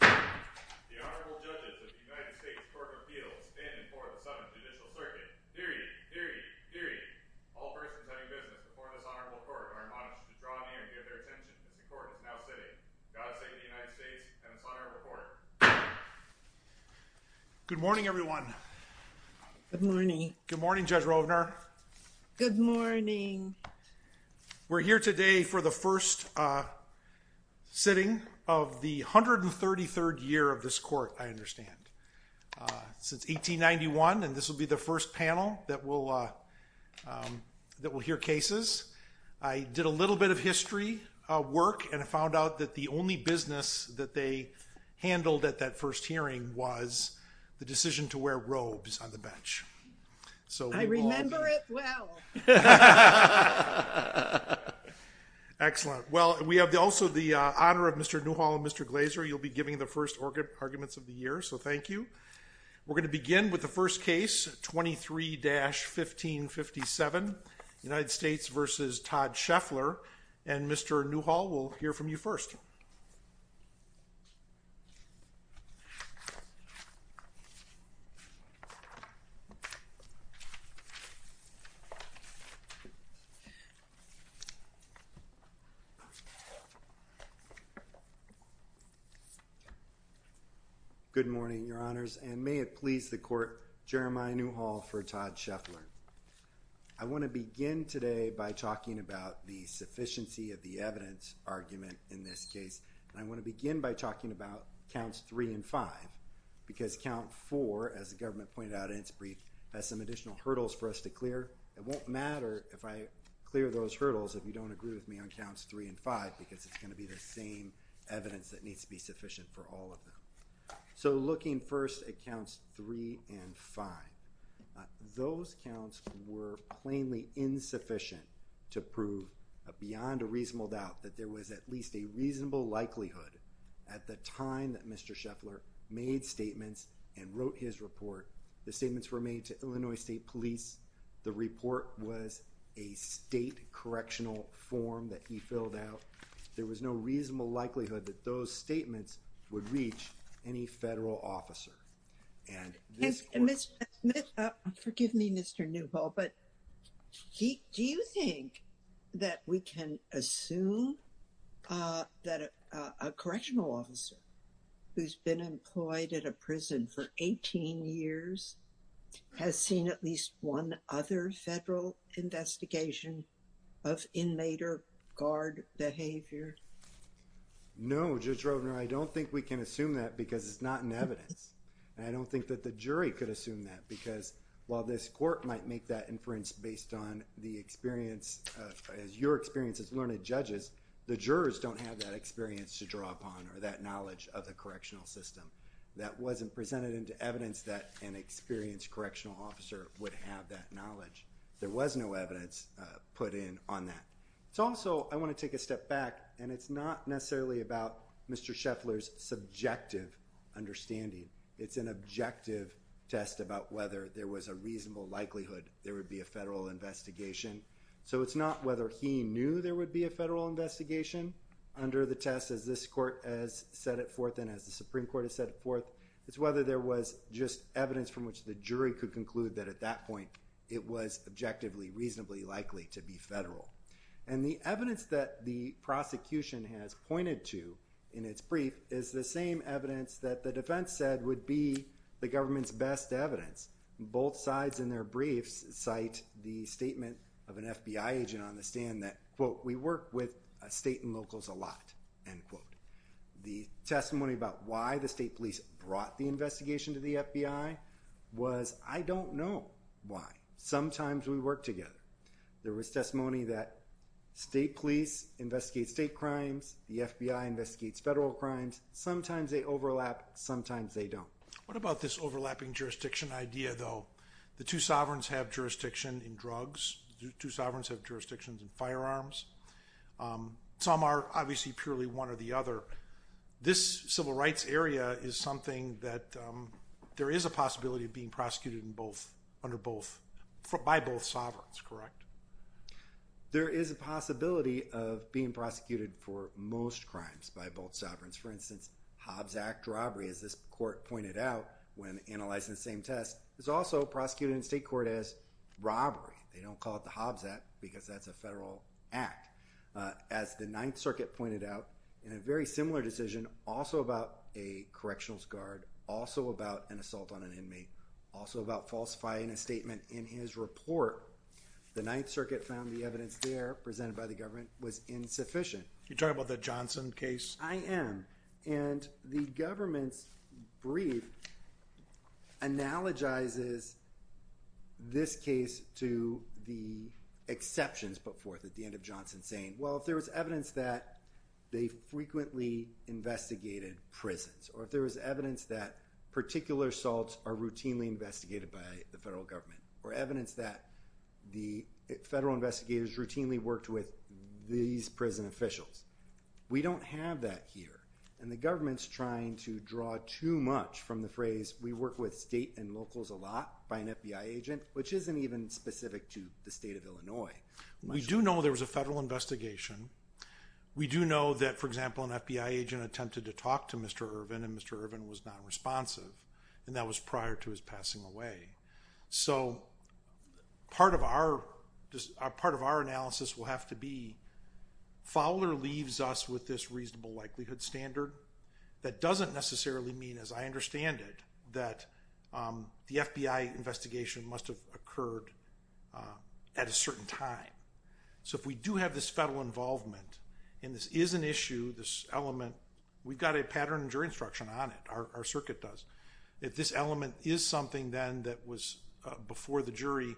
The Honorable Judges of the United States Court of Appeals in and for the Southern Judicial Circuit. Period. Period. Period. All persons having business before this Honorable Court are admonished to draw near and give their attention as the Court is now sitting. God save the United States and this Honorable Court. Good morning everyone. Good morning. Good morning Judge Rovner. Good morning. We're here today for the first sitting of the 133rd year of this Court, I understand. Since 1891 and this will be the first panel that will hear cases. I did a little bit of history work and I found out that the only business that they handled at that first hearing was the decision to wear robes on the bench. I remember it well. Excellent. Well, we have also the honor of Mr. Newhall and Mr. Glazer. You'll be giving the first arguments of the year. So thank you. We're going to begin with the first case 23-1557 United States v. Todd Sheffler and Mr. Newhall will hear from you first. Good morning, Your Honors, and may it please the Court, Jeremiah Newhall for Todd Sheffler. I want to begin today by talking about the sufficiency of the evidence argument in this case. I want to begin by talking about counts 3 and 5 because count 4, as the government pointed out in its brief, has some additional hurdles for us to clear. It won't matter if I clear those hurdles if you don't agree with me on counts 3 and 5 because it's going to be the same evidence that needs to be sufficient for all of them. So looking first at counts 3 and 5, those counts were plainly insufficient to prove beyond a reasonable doubt that there was at least a reasonable likelihood at the time that Mr. Sheffler made statements and wrote his report, the statements were made to Illinois State Police, the report was a state correctional form that he filled out, there was no reasonable likelihood that those statements would reach any federal officer. Ms. Smith, forgive me Mr. Newhall, but do you think that we can assume that a correctional officer who's been employed at a prison for 18 years has seen at least one other federal investigation of inmate or guard behavior? No, Judge Rovner, I don't think we can assume that because it's not in evidence. I don't think that the jury could assume that because while this court might make that inference based on the experience, as your experience as learned judges, the jurors don't have that experience to draw upon or that knowledge of the correctional system. That wasn't presented into evidence that an experienced correctional officer would have that knowledge. There was no evidence put in on that. So also I want to take a step back and it's not necessarily about Mr. Sheffler's subjective understanding. It's an objective test about whether there was a reasonable likelihood there would be a federal investigation. So it's not whether he knew there would be a federal investigation under the test as this court has set it forth and as the Supreme Court has set it forth. It's whether there was just evidence from which the jury could conclude that at that point it was objectively reasonably likely to be federal. And the evidence that the prosecution has pointed to in its brief is the same evidence that the defense said would be the government's best evidence. Both sides in their briefs cite the statement of an FBI agent on the stand that, quote, we work with state and locals a lot, end quote. The testimony about why the state police brought the investigation to the FBI was I don't know why. Sometimes we work together. There was testimony that state police investigate state crimes. The FBI investigates federal crimes. Sometimes they overlap. Sometimes they don't. What about this overlapping jurisdiction idea, though? The two sovereigns have jurisdiction in drugs. Two sovereigns have jurisdictions in firearms. Some are obviously purely one or the other. This civil rights area is something that there is a possibility of being prosecuted by both sovereigns, correct? There is a possibility of being prosecuted for most crimes by both sovereigns. For instance, Hobbs Act robbery, as this court pointed out when analyzing the same test, is also prosecuted in state court as robbery. They don't call it the Hobbs Act because that's a federal act. As the Ninth Circuit pointed out in a very similar decision, also about a correctional guard, also about an assault on an inmate, also about falsifying a statement in his report, the Ninth Circuit found the evidence there presented by the government was insufficient. You're talking about the Johnson case? I am. The government's brief analogizes this case to the exceptions put forth at the end of Johnson saying, well, if there was evidence that they frequently investigated prisons, or if there was evidence that particular assaults are routinely investigated by the federal government, or evidence that the federal investigators routinely worked with these prison officials, we don't have that here. And the government's trying to draw too much from the phrase, we work with state and locals a lot by an FBI agent, which isn't even specific to the state of Illinois. We do know there was a federal investigation. We do know that, for example, an FBI agent attempted to talk to Mr. Irvin, and Mr. Irvin was not responsive. And that was prior to his passing away. So part of our analysis will have to be, Fowler leaves us with this reasonable likelihood standard. That doesn't necessarily mean, as I understand it, that the FBI investigation must have occurred at a certain time. So if we do have this federal involvement, and this is an issue, this element, we've got a pattern in jury instruction on it, our circuit does. If this element is something then that was before the jury,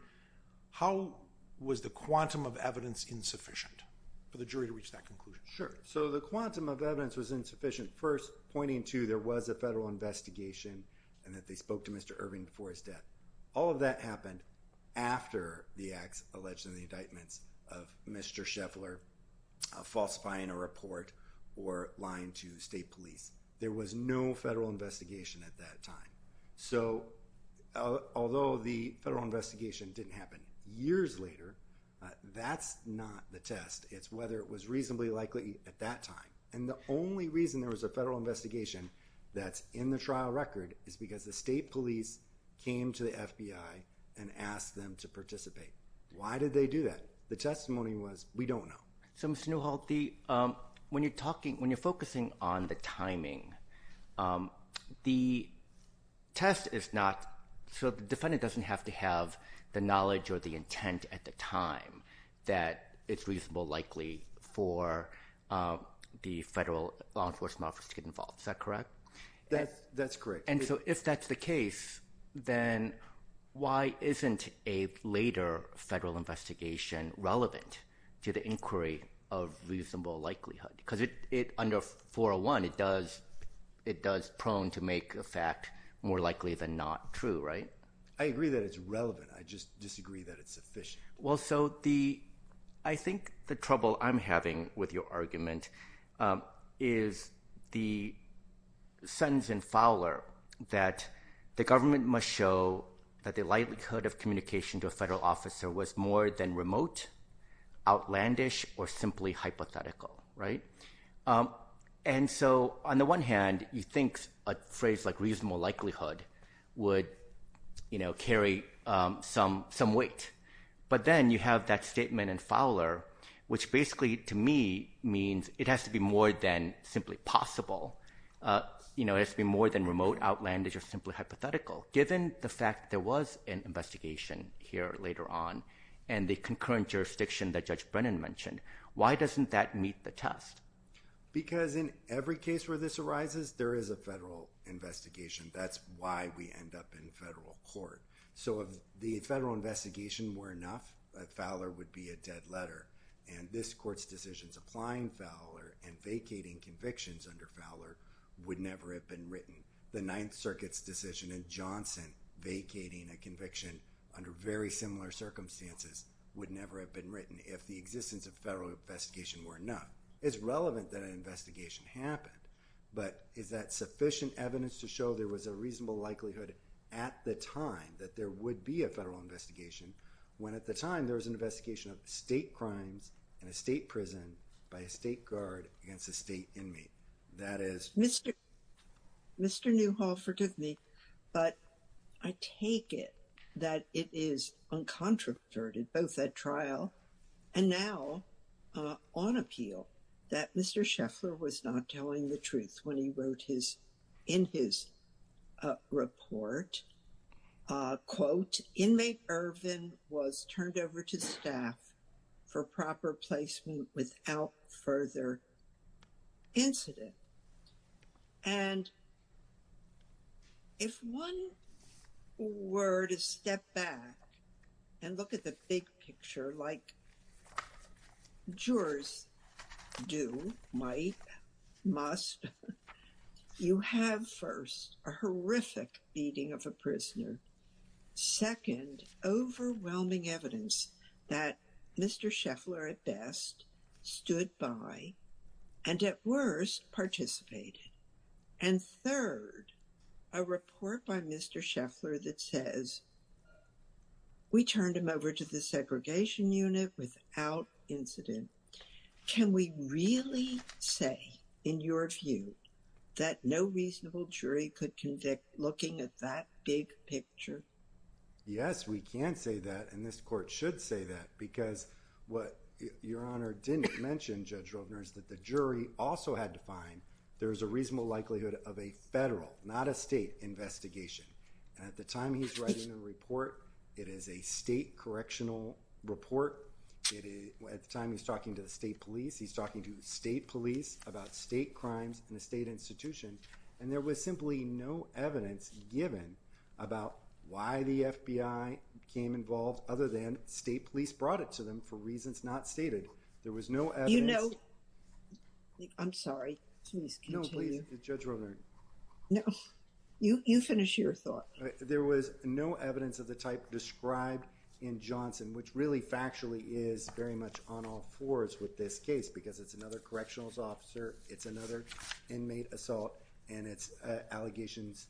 how was the quantum of evidence insufficient for the jury to reach that conclusion? Sure. So the quantum of evidence was insufficient, first pointing to there was a federal investigation, and that they spoke to Mr. Irvin before his death. All of that happened after the acts alleged in the indictments of Mr. Scheffler falsifying a report or lying to state police. There was no federal investigation at that time. So although the federal investigation didn't happen years later, that's not the test. It's whether it was reasonably likely at that time. And the only reason there was a federal investigation that's in the trial record is because the state police came to the FBI and asked them to participate. Why did they do that? The testimony was, we don't know. So, Mr. Newhall, when you're talking, when you're focusing on the timing, the test is not, so the defendant doesn't have to have the knowledge or the intent at the time that it's reasonably likely for the federal law enforcement office to get involved. Is that correct? That's correct. And so if that's the case, then why isn't a later federal investigation relevant to the inquiry of reasonable likelihood? Because under 401, it does prone to make a fact more likely than not true, right? I agree that it's relevant. I just disagree that it's sufficient. Well, so I think the trouble I'm having with your argument is the sentence in Fowler that the government must show that the likelihood of communication to a federal officer was more than remote, outlandish, or simply hypothetical, right? And so on the one hand, you think a phrase like reasonable likelihood would carry some weight. But then you have that statement in Fowler, which basically, to me, means it has to be more than simply possible. It has to be more than remote, outlandish, or simply hypothetical. Given the fact there was an investigation here later on and the concurrent jurisdiction that Judge Brennan mentioned, why doesn't that meet the test? Because in every case where this arises, there is a federal investigation. That's why we end up in federal court. So if the federal investigation were enough, Fowler would be a dead letter. And this court's decisions applying Fowler and vacating convictions under Fowler would never have been written. The Ninth Circuit's decision in Johnson vacating a conviction under very similar circumstances would never have been written if the existence of federal investigation were enough. It's relevant that an investigation happened. But is that sufficient evidence to show there was a reasonable likelihood at the time that there would be a federal investigation when at the time there was an investigation of state crimes in a state prison by a state guard against a state inmate? Mr. Newhall, forgive me, but I take it that it is uncontroverted, both at trial and now on appeal, that Mr. Scheffler was not telling the truth when he wrote in his report, quote, inmate Irvin was turned over to staff for proper placement without further incident. And if one were to step back and look at the big picture like jurors do, might, must, you have first a horrific beating of a prisoner. Second, overwhelming evidence that Mr. Scheffler at best stood by and at worst participated. And third, a report by Mr. Scheffler that says we turned him over to the segregation unit without incident. Can we really say, in your view, that no reasonable jury could convict looking at that big picture? Yes, we can say that, and this court should say that, because what Your Honor didn't mention, Judge Rogner, is that the jury also had to find there was a reasonable likelihood of a federal, not a state, investigation. And at the time he's writing the report, it is a state correctional report. At the time he's talking to the state police, he's talking to state police about state crimes in a state institution. And there was simply no evidence given about why the FBI became involved other than state police brought it to them for reasons not stated. There was no evidence. You know, I'm sorry. Please continue. No, please, Judge Rogner. No, you finish your thought. There was no evidence of the type described in Johnson, which really factually is very much on all fours with this case, because it's another correctional officer, it's another inmate assault, and it's allegations,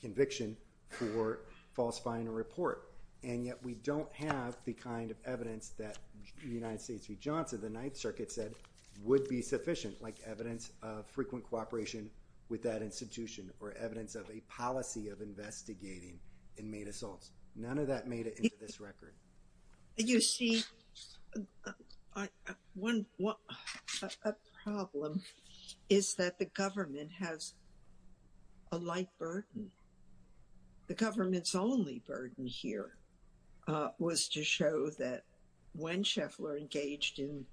conviction for falsifying a report. And yet we don't have the kind of evidence that the United States v. Johnson, the Ninth Circuit said, would be sufficient, like evidence of frequent cooperation with that institution or evidence of a policy of investigating inmate assaults. None of that made it into this record. You see, one problem is that the government has a light burden. The government's only burden here was to show that when Scheffler engaged in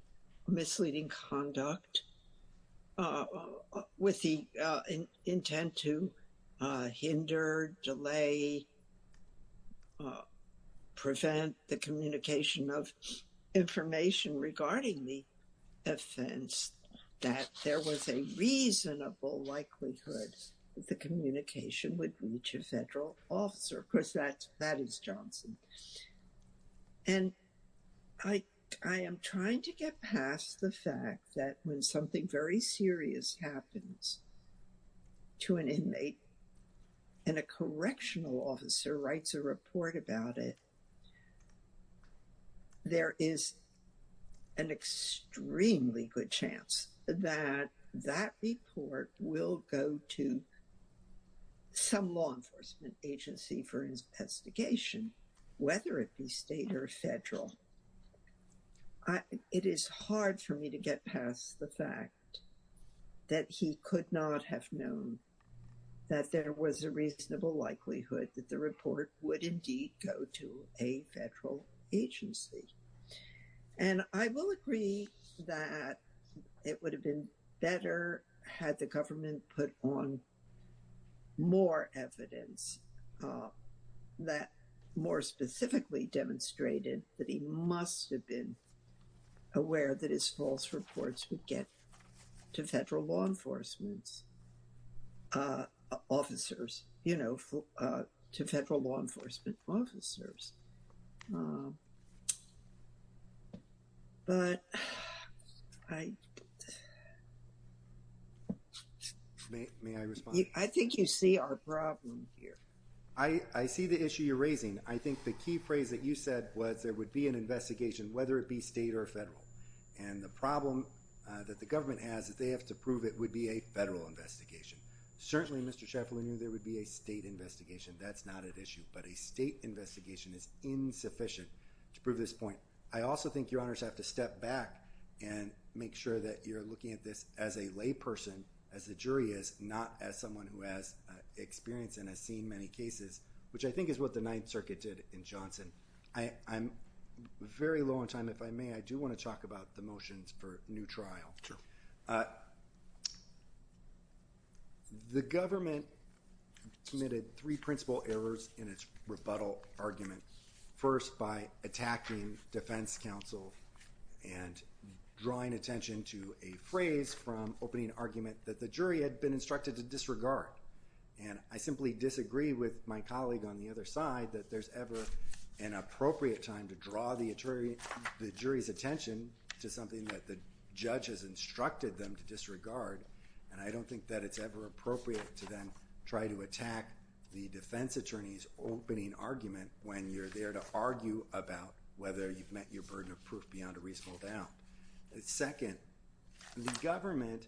misleading conduct with the intent to hinder, delay, prevent the communication of information regarding the offense, that there was a reasonable likelihood that the communication would reach a federal officer, because that is Johnson. And I am trying to get past the fact that when something very serious happens to an inmate and a correctional officer writes a report about it, there is an extremely good chance that that report will go to some law enforcement agency for investigation. Whether it be state or federal, it is hard for me to get past the fact that he could not have known that there was a reasonable likelihood that the report would indeed go to a federal agency. And I will agree that it would have been better had the government put on more evidence that more specifically demonstrated that he must have been aware that his false reports would get to federal law enforcement officers, you know, to federal law enforcement officers. But I think you see our problem here. I see the issue you're raising. I think the key phrase that you said was there would be an investigation, whether it be state or federal. And the problem that the government has is they have to prove it would be a federal investigation. Certainly, Mr. Shaffer, we knew there would be a state investigation. That's not an issue. But a state investigation is insufficient to prove this point. I also think your honors have to step back and make sure that you're looking at this as a lay person, as the jury is, not as someone who has experience and has seen many cases, which I think is what the Ninth Circuit did in Johnson. I'm very low on time. If I may, I do want to talk about the motions for new trial. Sure. The government committed three principal errors in its rebuttal argument, first by attacking defense counsel and drawing attention to a phrase from opening argument that the jury had been instructed to disregard. And I simply disagree with my colleague on the other side that there's ever an appropriate time to draw the jury's attention to something that the judge has instructed them to disregard. And I don't think that it's ever appropriate to then try to attack the defense attorney's opening argument when you're there to argue about whether you've met your burden of proof beyond a reasonable doubt. Second, the government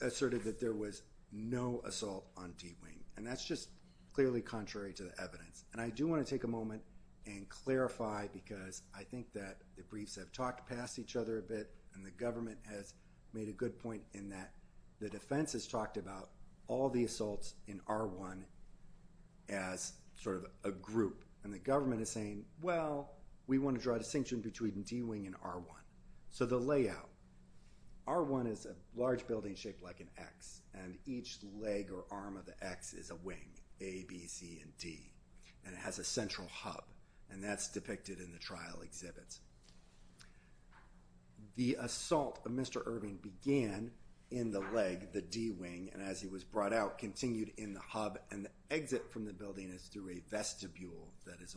asserted that there was no assault on D-Wing. And that's just clearly contrary to the evidence. And I do want to take a moment and clarify, because I think that the briefs have talked past each other a bit, and the government has made a good point in that the defense has talked about all the assaults in R-1 as sort of a group. And the government is saying, well, we want to draw a distinction between D-Wing and R-1. So the layout, R-1 is a large building shaped like an X. And each leg or arm of the X is a wing, A, B, C, and D. And it has a central hub. And that's depicted in the trial exhibits. The assault of Mr. Irving began in the leg, the D-Wing. And as he was brought out, continued in the hub. And the exit from the building is through a vestibule that is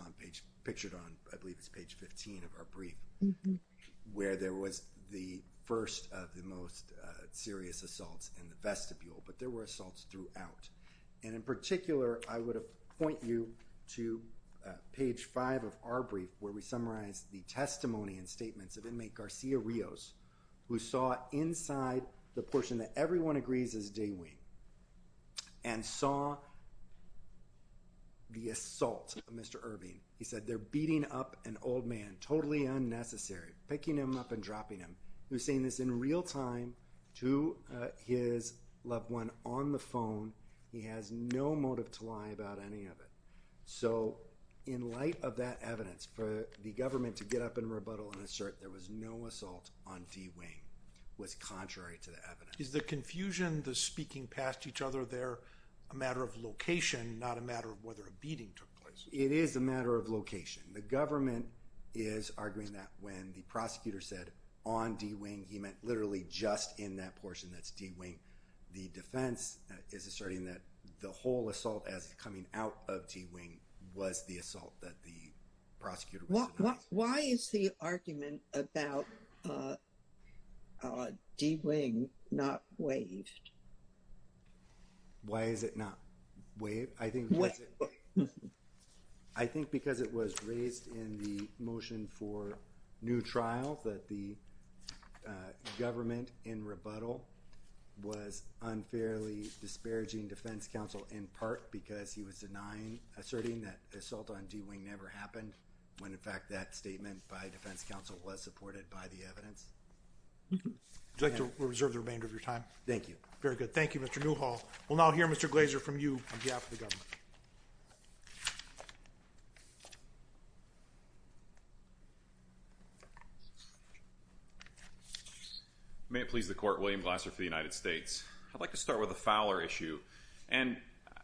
pictured on, I believe it's page 15 of our brief, where there was the first of the most serious assaults in the vestibule. But there were assaults throughout. And in particular, I would point you to page 5 of our brief, where we summarize the testimony and statements of inmate Garcia Rios, who saw inside the portion that everyone agrees is D-Wing, and saw the assault of Mr. Irving. He said, they're beating up an old man, totally unnecessary, picking him up and dropping him. He was saying this in real time to his loved one on the phone. He has no motive to lie about any of it. So, in light of that evidence, for the government to get up and rebuttal and assert there was no assault on D-Wing was contrary to the evidence. Is the confusion, the speaking past each other there a matter of location, not a matter of whether a beating took place? It is a matter of location. The government is arguing that when the prosecutor said, on D-Wing, he meant literally just in that portion that's D-Wing. The defense is asserting that the whole assault as it's coming out of D-Wing was the assault that the prosecutor was— Why is the argument about D-Wing not waived? Why is it not waived? I think because it was raised in the motion for new trial that the government in rebuttal was unfairly disparaging defense counsel in part because he was denying, asserting that assault on D-Wing never happened when in fact that statement by defense counsel was supported by the evidence. Would you like to reserve the remainder of your time? Thank you. Very good. Thank you, Mr. Newhall. We'll now hear Mr. Glaser from you on behalf of the government. May it please the court, William Glaser for the United States. I'd like to start with a fowler issue. And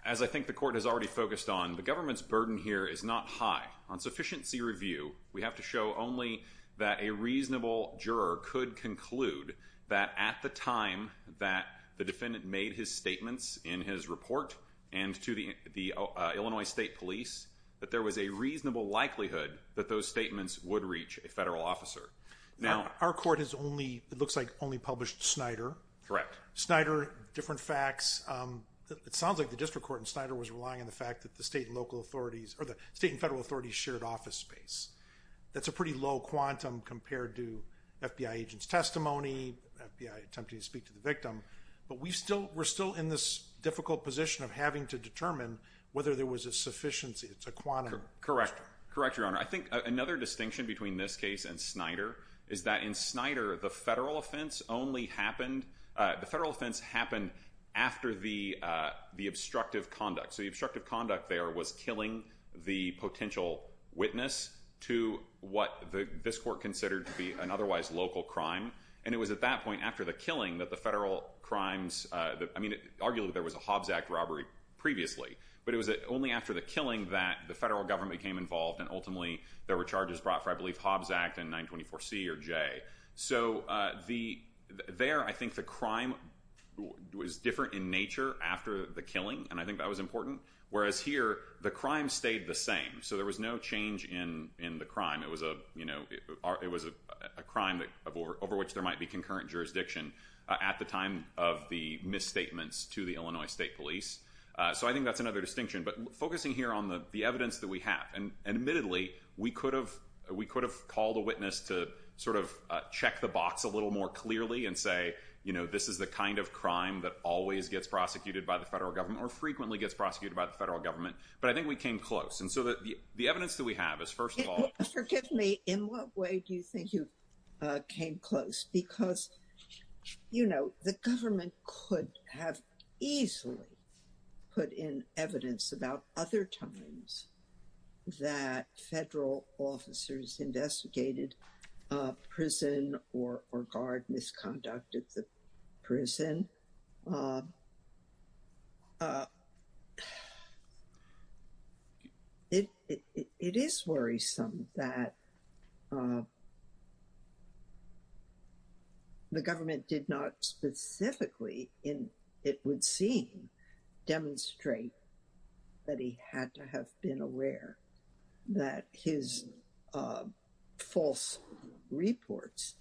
as I think the court has already focused on, the government's burden here is not high. On sufficiency review, we have to show only that a reasonable juror could conclude that at the time that the defendant made his statements in his report and to the Illinois State Police, that there was a reasonable likelihood that those statements would reach a federal officer. Now, our court has only—it looks like only published Snyder. Correct. Snyder, different facts. It sounds like the district court in Snyder was relying on the fact that the state and local authorities—or the state and federal authorities shared office space. That's a pretty low quantum compared to FBI agent's testimony, FBI attempting to speak to the victim. But we're still in this difficult position of having to determine whether there was a sufficiency. It's a quantum. Correct. Correct, Your Honor. I think another distinction between this case and Snyder is that in Snyder, the federal offense only happened—the federal offense happened after the obstructive conduct. So the obstructive conduct there was killing the potential witness to what this court considered to be an otherwise local crime. And it was at that point after the killing that the federal crimes—I mean, arguably there was a Hobbs Act robbery previously, but it was only after the killing that the federal government became involved, and ultimately there were charges brought for, I believe, Hobbs Act and 924C or J. So there, I think the crime was different in nature after the killing, and I think that was important. Whereas here, the crime stayed the same. So there was no change in the crime. It was a crime over which there might be concurrent jurisdiction at the time of the misstatements to the Illinois State Police. So I think that's another distinction. But focusing here on the evidence that we have, and admittedly, we could have called a witness to sort of check the box a little more clearly and say, you know, this is the kind of crime that always gets prosecuted by the federal government or frequently gets prosecuted by the federal government. But I think we came close. And so the evidence that we have is, first of all— Forgive me, in what way do you think you came close? Because, you know, the government could have easily put in evidence about other times that federal officers investigated prison or guard misconduct at the prison. And it is worrisome that the government did not specifically, it would seem, demonstrate that he had to have been aware that his false reports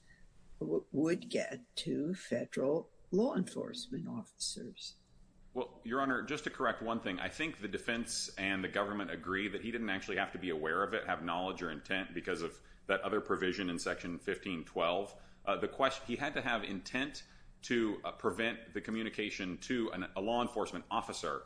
would get to federal law enforcement. Well, Your Honor, just to correct one thing. I think the defense and the government agree that he didn't actually have to be aware of it, have knowledge or intent because of that other provision in Section 1512. The question—he had to have intent to prevent the communication to a law enforcement officer.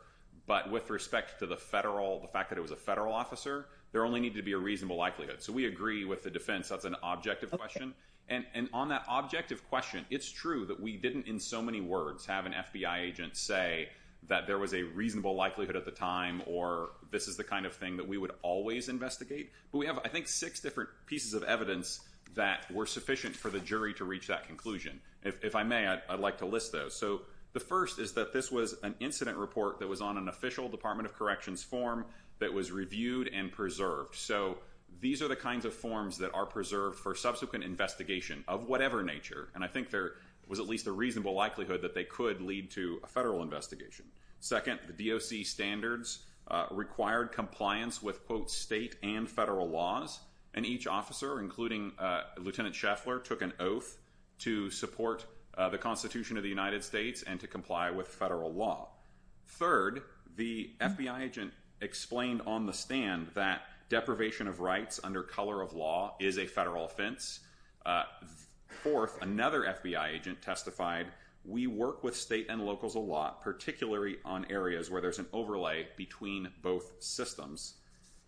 But with respect to the federal, the fact that it was a federal officer, there only needed to be a reasonable likelihood. So we agree with the defense. That's an objective question. And on that objective question, it's true that we didn't, in so many words, have an FBI agent say that there was a reasonable likelihood at the time or this is the kind of thing that we would always investigate. But we have, I think, six different pieces of evidence that were sufficient for the jury to reach that conclusion. If I may, I'd like to list those. So the first is that this was an incident report that was on an official Department of Corrections form that was reviewed and preserved. So these are the kinds of forms that are preserved for subsequent investigation of whatever nature. And I think there was at least a reasonable likelihood that they could lead to a federal investigation. Second, the DOC standards required compliance with, quote, state and federal laws. And each officer, including Lieutenant Scheffler, took an oath to support the Constitution of the United States and to comply with federal law. Third, the FBI agent explained on the stand that deprivation of rights under color of law is a federal offense. Fourth, another FBI agent testified, we work with state and locals a lot, particularly on areas where there's an overlay between both systems.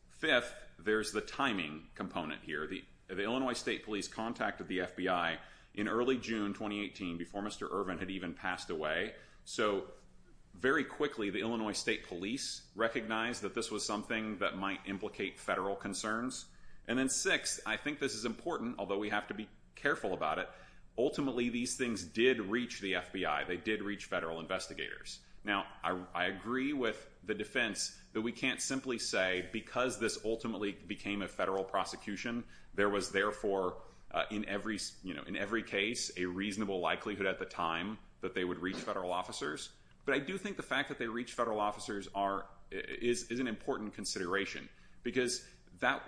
Fifth, there's the timing component here. The Illinois State Police contacted the FBI in early June 2018 before Mr. Ervin had even passed away. So very quickly, the Illinois State Police recognized that this was something that might implicate federal concerns. And then sixth, I think this is important, although we have to be careful about it, ultimately these things did reach the FBI. They did reach federal investigators. Now, I agree with the defense that we can't simply say because this ultimately became a federal prosecution, there was therefore in every case a reasonable likelihood at the time that they would reach federal officers. But I do think the fact that they reached federal officers is an important consideration. Because that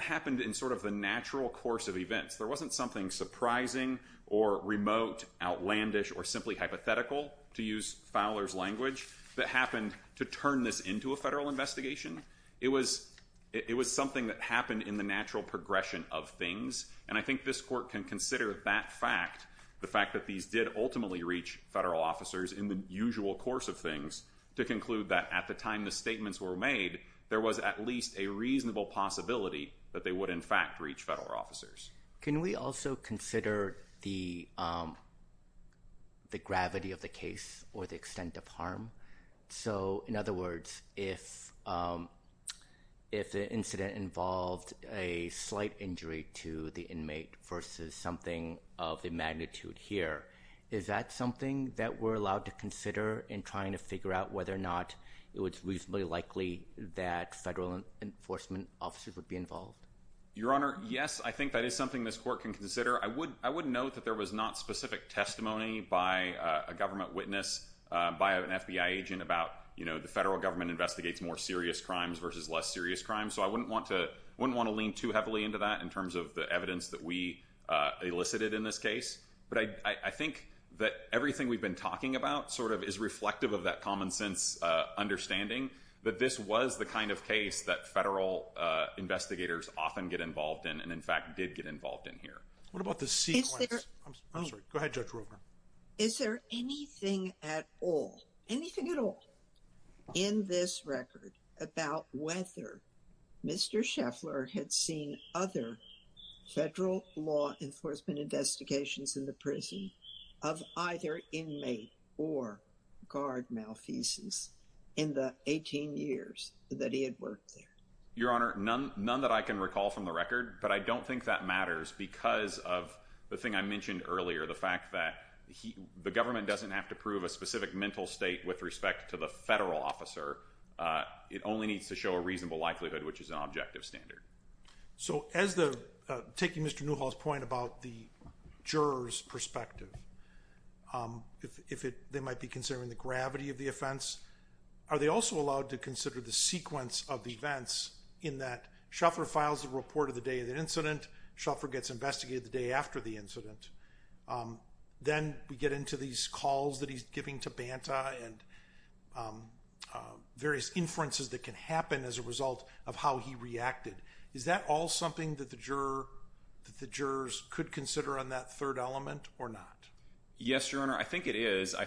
happened in sort of the natural course of events. There wasn't something surprising or remote, outlandish, or simply hypothetical, to use Fowler's language, that happened to turn this into a federal investigation. It was something that happened in the natural progression of things. And I think this court can consider that fact, the fact that these did ultimately reach federal officers in the usual course of things, to conclude that at the time the statements were made, there was at least a reasonable possibility that they would in fact reach federal officers. Can we also consider the gravity of the case or the extent of harm? So, in other words, if the incident involved a slight injury to the inmate versus something of the magnitude here, is that something that we're allowed to consider in trying to figure out whether or not it was reasonably likely that federal enforcement officers would be involved? Your Honor, yes, I think that is something this court can consider. I would note that there was not specific testimony by a government witness, by an FBI agent, about the federal government investigates more serious crimes versus less serious crimes. So I wouldn't want to lean too heavily into that in terms of the evidence that we elicited in this case. But I think that everything we've been talking about sort of is reflective of that common sense understanding that this was the kind of case that federal investigators often get involved in and in fact did get involved in here. What about the sequence? I'm sorry. Go ahead, Judge Ruebner. Is there anything at all, anything at all, in this record about whether Mr. Scheffler had seen other federal law enforcement investigations in the prison of either inmate or guard malfeasance in the 18 years that he had worked there? Your Honor, none that I can recall from the record. But I don't think that matters because of the thing I mentioned earlier, the fact that the government doesn't have to prove a specific mental state with respect to the federal officer. It only needs to show a reasonable likelihood, which is an objective standard. So taking Mr. Newhall's point about the juror's perspective, if they might be considering the gravity of the offense, are they also allowed to consider the sequence of events in that Scheffler files a report of the day of the incident, Scheffler gets investigated the day after the incident, then we get into these calls that he's giving to Banta and various inferences that can happen as a result of how he reacted. Is that all something that the jurors could consider on that third element or not? Yes, Your Honor. I think it is. I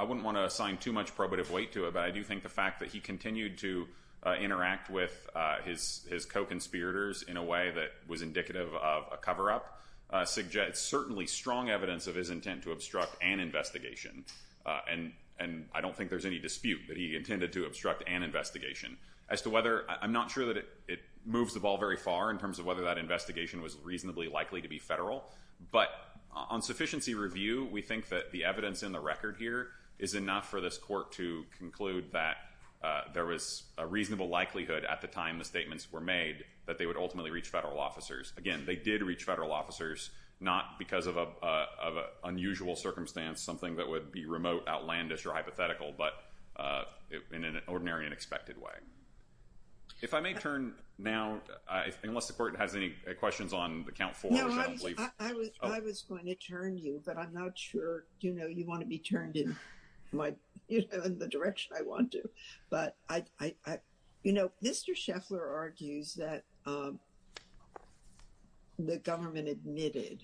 wouldn't want to assign too much probative weight to it, but I do think the fact that he continued to interact with his co-conspirators in a way that was indicative of a cover-up suggests certainly strong evidence of his intent to obstruct an investigation. And I don't think there's any dispute that he intended to obstruct an investigation. I'm not sure that it moves the ball very far in terms of whether that investigation was reasonably likely to be federal, but on sufficiency review, we think that the evidence in the record here is enough for this court to conclude that there was a reasonable likelihood at the time the statements were made that they would ultimately reach federal officers. Again, they did reach federal officers, not because of an unusual circumstance, something that would be remote, outlandish, or hypothetical, but in an ordinary and expected way. If I may turn now, unless the court has any questions on the count four. I was going to turn to you, but I'm not sure you want to be turned in the direction I want to. Mr. Scheffler argues that the government admitted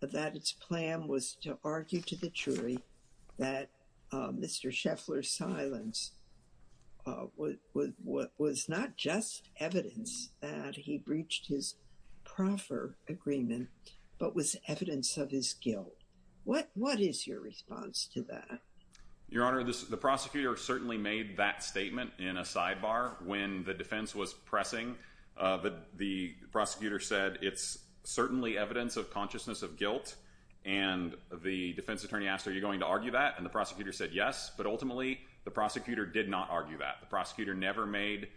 that its plan was to argue to the jury that Mr. Scheffler's silence was not just evidence that he breached his proffer agreement, but was evidence of his guilt. What is your response to that? Your Honor, the prosecutor certainly made that statement in a sidebar when the defense was pressing. The prosecutor said, it's certainly evidence of consciousness of guilt. And the defense attorney asked, are you going to argue that? And the prosecutor said yes, but ultimately, the prosecutor did not argue that. The prosecutor never made,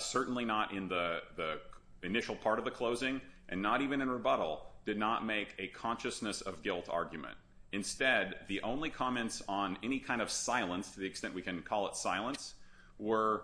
certainly not in the initial part of the closing, and not even in rebuttal, did not make a consciousness of guilt argument. Instead, the only comments on any kind of silence, to the extent we can call it silence, was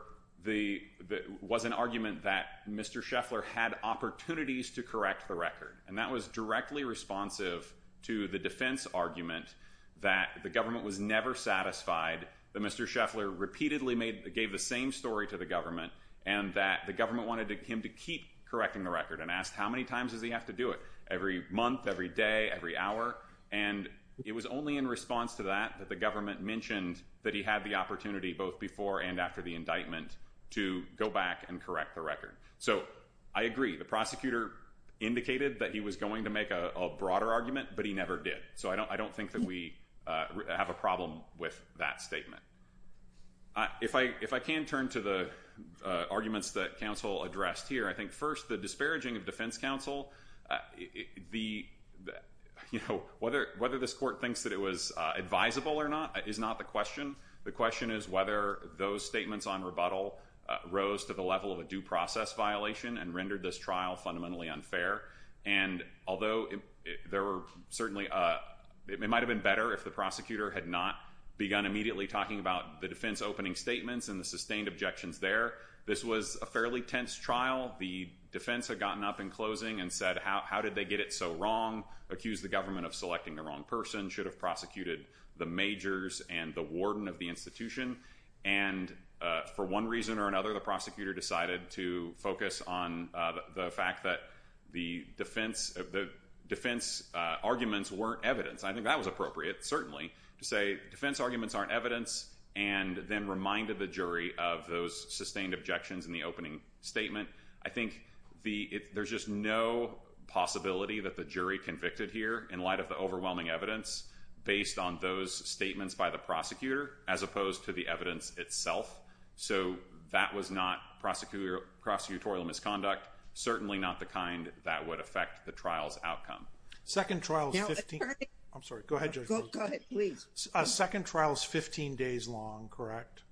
an argument that Mr. Scheffler had opportunities to correct the record. And that was directly responsive to the defense argument that the government was never satisfied, that Mr. Scheffler repeatedly gave the same story to the government, and that the government wanted him to keep correcting the record, and asked how many times does he have to do it, every month, every day, every hour? And it was only in response to that that the government mentioned that he had the opportunity, both before and after the indictment, to go back and correct the record. So I agree, the prosecutor indicated that he was going to make a broader argument, but he never did. So I don't think that we have a problem with that statement. If I can turn to the arguments that counsel addressed here, I think, first, the disparaging of defense counsel. Whether this court thinks that it was advisable or not is not the question. The question is whether those statements on rebuttal rose to the level of a due process violation and rendered this trial fundamentally unfair. And although it might have been better if the prosecutor had not begun immediately talking about the defense opening statements and the sustained objections there, this was a fairly tense trial. The defense had gotten up in closing and said, how did they get it so wrong? Accused the government of selecting the wrong person. Should have prosecuted the majors and the warden of the institution. And for one reason or another, the prosecutor decided to focus on the fact that the defense arguments weren't evidence. I think that was appropriate, certainly, to say defense arguments aren't evidence, and then reminded the jury of those sustained objections in the opening statement. I think there's just no possibility that the jury convicted here in light of the overwhelming evidence based on those statements by the prosecutor as opposed to the evidence itself. So that was not prosecutorial misconduct, certainly not the kind that would affect the trial's outcome. Second trial is 15 days long, correct?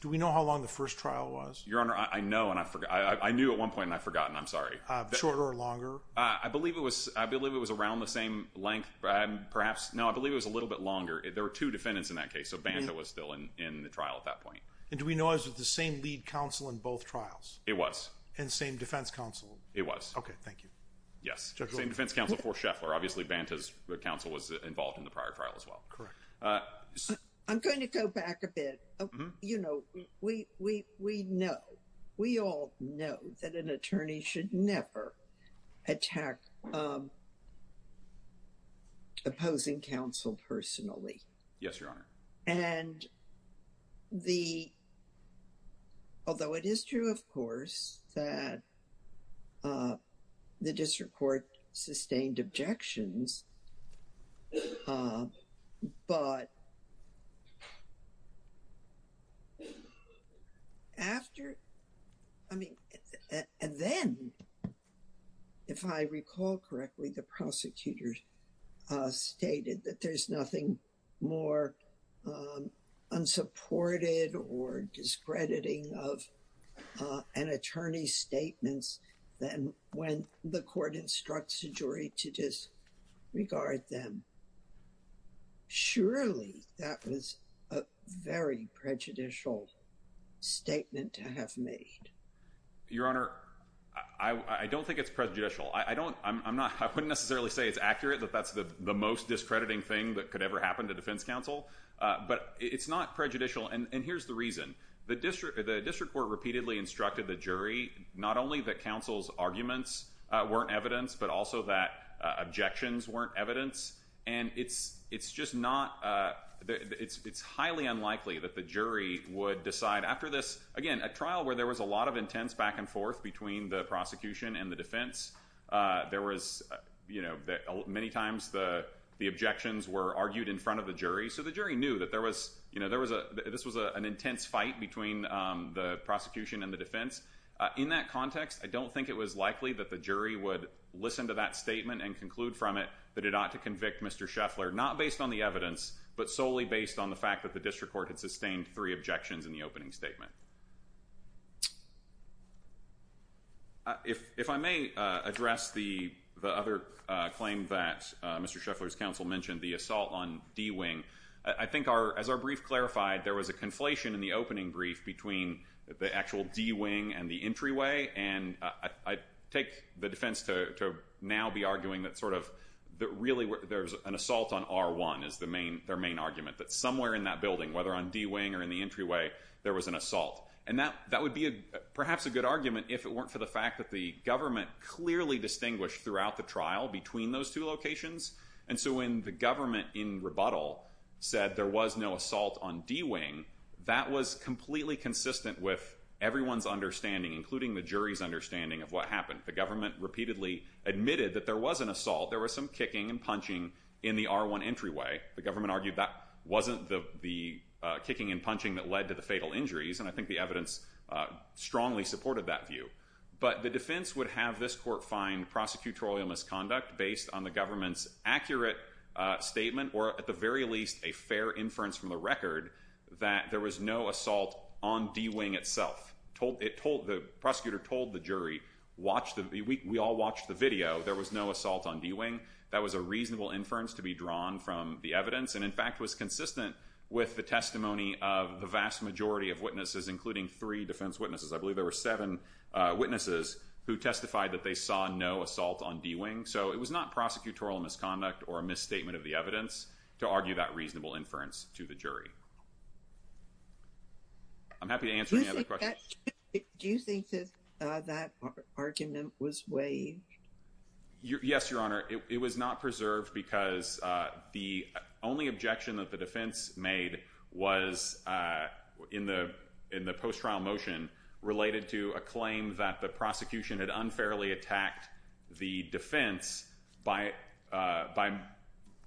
Do we know how long the first trial was? Your Honor, I know and I knew at one point and I've forgotten, I'm sorry. Shorter or longer? I believe it was around the same length, perhaps. No, I believe it was a little bit longer. There were two defendants in that case, so Banta was still in the trial at that point. And do we know it was the same lead counsel in both trials? It was. And same defense counsel? It was. Okay, thank you. Yes, same defense counsel for Scheffler. Obviously Banta's counsel was involved in the prior trial as well. I'm going to go back a bit. You know, we know, we all know that an attorney should never attack opposing counsel personally. Yes, Your Honor. And although it is true, of course, that the district court sustained objections, but after, I mean, and then, if I recall correctly, the prosecutors stated that there's nothing more unsupported or discrediting of an attorney's statements than when the court instructs a jury to disregard them. Surely, that was a very prejudicial statement to have made. Your Honor, I don't think it's prejudicial. I don't, I'm not, I wouldn't necessarily say it's accurate, that that's the most discrediting thing that could ever happen to defense counsel, but it's not prejudicial. And here's the reason. The district court repeatedly instructed the jury not only that counsel's arguments weren't evidence, but also that objections weren't evidence. And it's just not, it's highly unlikely that the jury would decide after this, again, a trial where there was a lot of intense back and forth between the prosecution and the defense. There was, you know, many times the objections were argued in front of the jury. So the jury knew that there was, you know, there was a, this was an intense fight between the prosecution and the defense. In that context, I don't think it was likely that the jury would listen to that statement and conclude from it that it ought to convict Mr. Scheffler, not based on the evidence, but solely based on the fact that the district court had sustained three objections in the opening statement. If I may address the other claim that Mr. Scheffler's counsel mentioned, the assault on D-Wing. I think our, as our brief clarified, there was a conflation in the opening brief between the actual D-Wing and the entryway, and I take the defense to now be arguing that sort of, that really there's an assault on R-1 is their main argument, that somewhere in that building, whether on D-Wing or in the entryway, there was an assault. And that would be perhaps a good argument if it weren't for the fact that the government clearly distinguished throughout the trial between those two locations. And so when the government in rebuttal said there was no assault on D-Wing, that was completely consistent with everyone's understanding, including the jury's understanding, of what happened. The government repeatedly admitted that there was an assault. There was some kicking and punching in the R-1 entryway. The government argued that wasn't the kicking and punching that led to the fatal injuries, and I think the evidence strongly supported that view. But the defense would have this court find prosecutorial misconduct based on the government's accurate statement, or at the very least a fair inference from the record, that there was no assault on D-Wing itself. The prosecutor told the jury, we all watched the video, there was no assault on D-Wing. That was a reasonable inference to be drawn from the evidence, and in fact was consistent with the testimony of the vast majority of witnesses, including three defense witnesses. I believe there were seven witnesses who testified that they saw no assault on D-Wing. So it was not prosecutorial misconduct or a misstatement of the evidence to argue that reasonable inference to the jury. I'm happy to answer any other questions. Do you think that argument was waived? Yes, Your Honor. It was not preserved because the only objection that the defense made was in the post-trial motion related to a claim that the prosecution had unfairly attacked the defense by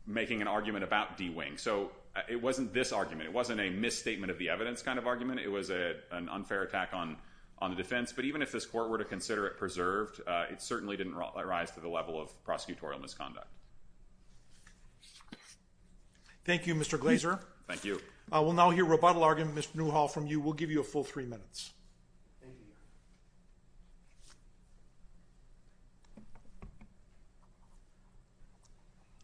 making an argument about D-Wing. So it wasn't this argument. It wasn't a misstatement of the evidence kind of argument. It was an unfair attack on the defense. But even if this court were to consider it preserved, it certainly didn't rise to the level of prosecutorial misconduct. Thank you, Mr. Glazer. Thank you. We'll now hear rebuttal argument, Mr. Newhall, from you. We'll give you a full three minutes. Thank you, Your Honor.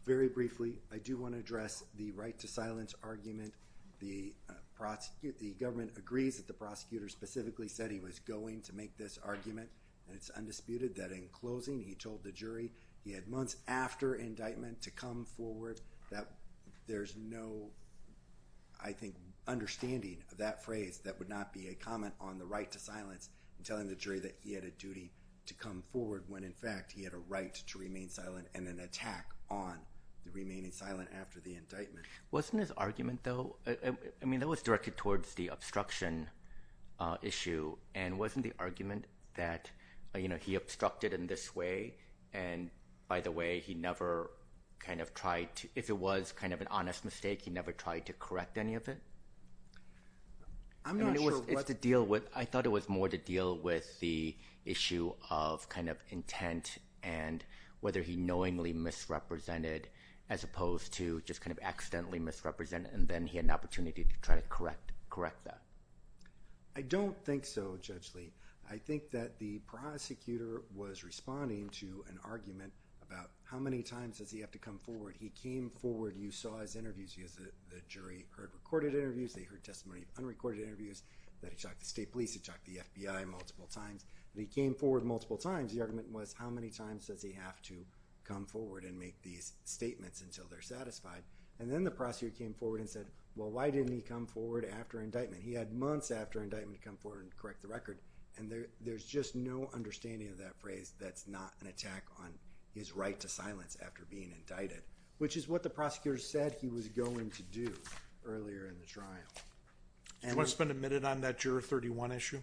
Very briefly, I do want to address the right to silence argument. The government agrees that the prosecutor specifically said he was going to make this argument, and it's undisputed that in closing he told the jury he had months after indictment to come forward, that there's no, I think, understanding of that phrase that would not be a comment on the right to silence and telling the jury that he had a duty to come forward when, in fact, he had a right to remain silent and an attack on the remaining silent after the indictment. Wasn't his argument, though, I mean, that was directed towards the obstruction issue, and wasn't the argument that he obstructed in this way and, by the way, he never kind of tried to, if it was kind of an honest mistake, he never tried to correct any of it? I'm not sure what. I thought it was more to deal with the issue of kind of intent and whether he knowingly misrepresented as opposed to just kind of accidentally misrepresented, and then he had an opportunity to try to correct that. I don't think so, Judge Lee. I think that the prosecutor was responding to an argument about how many times does he have to come forward. He came forward. You saw his interviews. The jury heard recorded interviews. They heard testimony of unrecorded interviews. They talked to state police. They talked to the FBI multiple times. They came forward multiple times. The argument was how many times does he have to come forward and make these statements until they're satisfied, and then the prosecutor came forward and said, well, why didn't he come forward after indictment? He had months after indictment to come forward and correct the record, and there's just no understanding of that phrase that's not an attack on his right to silence after being indicted, which is what the prosecutor said he was going to do earlier in the trial. So it's been admitted on that Juror 31 issue?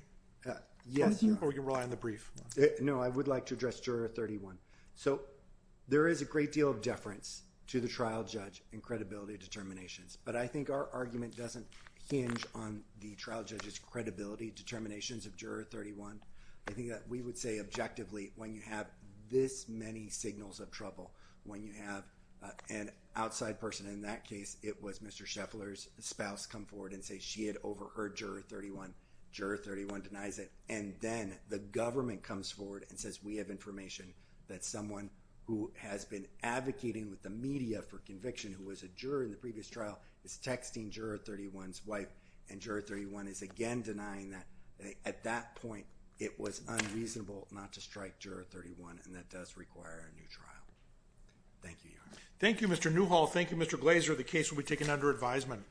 Yes. Or we can rely on the brief. No, I would like to address Juror 31. So there is a great deal of deference to the trial judge in credibility determinations, but I think our argument doesn't hinge on the trial judge's credibility determinations of Juror 31. I think that we would say objectively when you have this many signals of trouble, when you have an outside person in that case, it was Mr. Scheffler's spouse come forward and say she had overheard Juror 31. Juror 31 denies it, and then the government comes forward and says we have information that someone who has been advocating with the media for conviction who was a juror in the previous trial is texting Juror 31's wife, and Juror 31 is again denying that. At that point, it was unreasonable not to strike Juror 31, and that does require a new trial. Thank you, Your Honor. Thank you, Mr. Newhall. Thank you, Mr. Glazer. The case will be taken under advisement.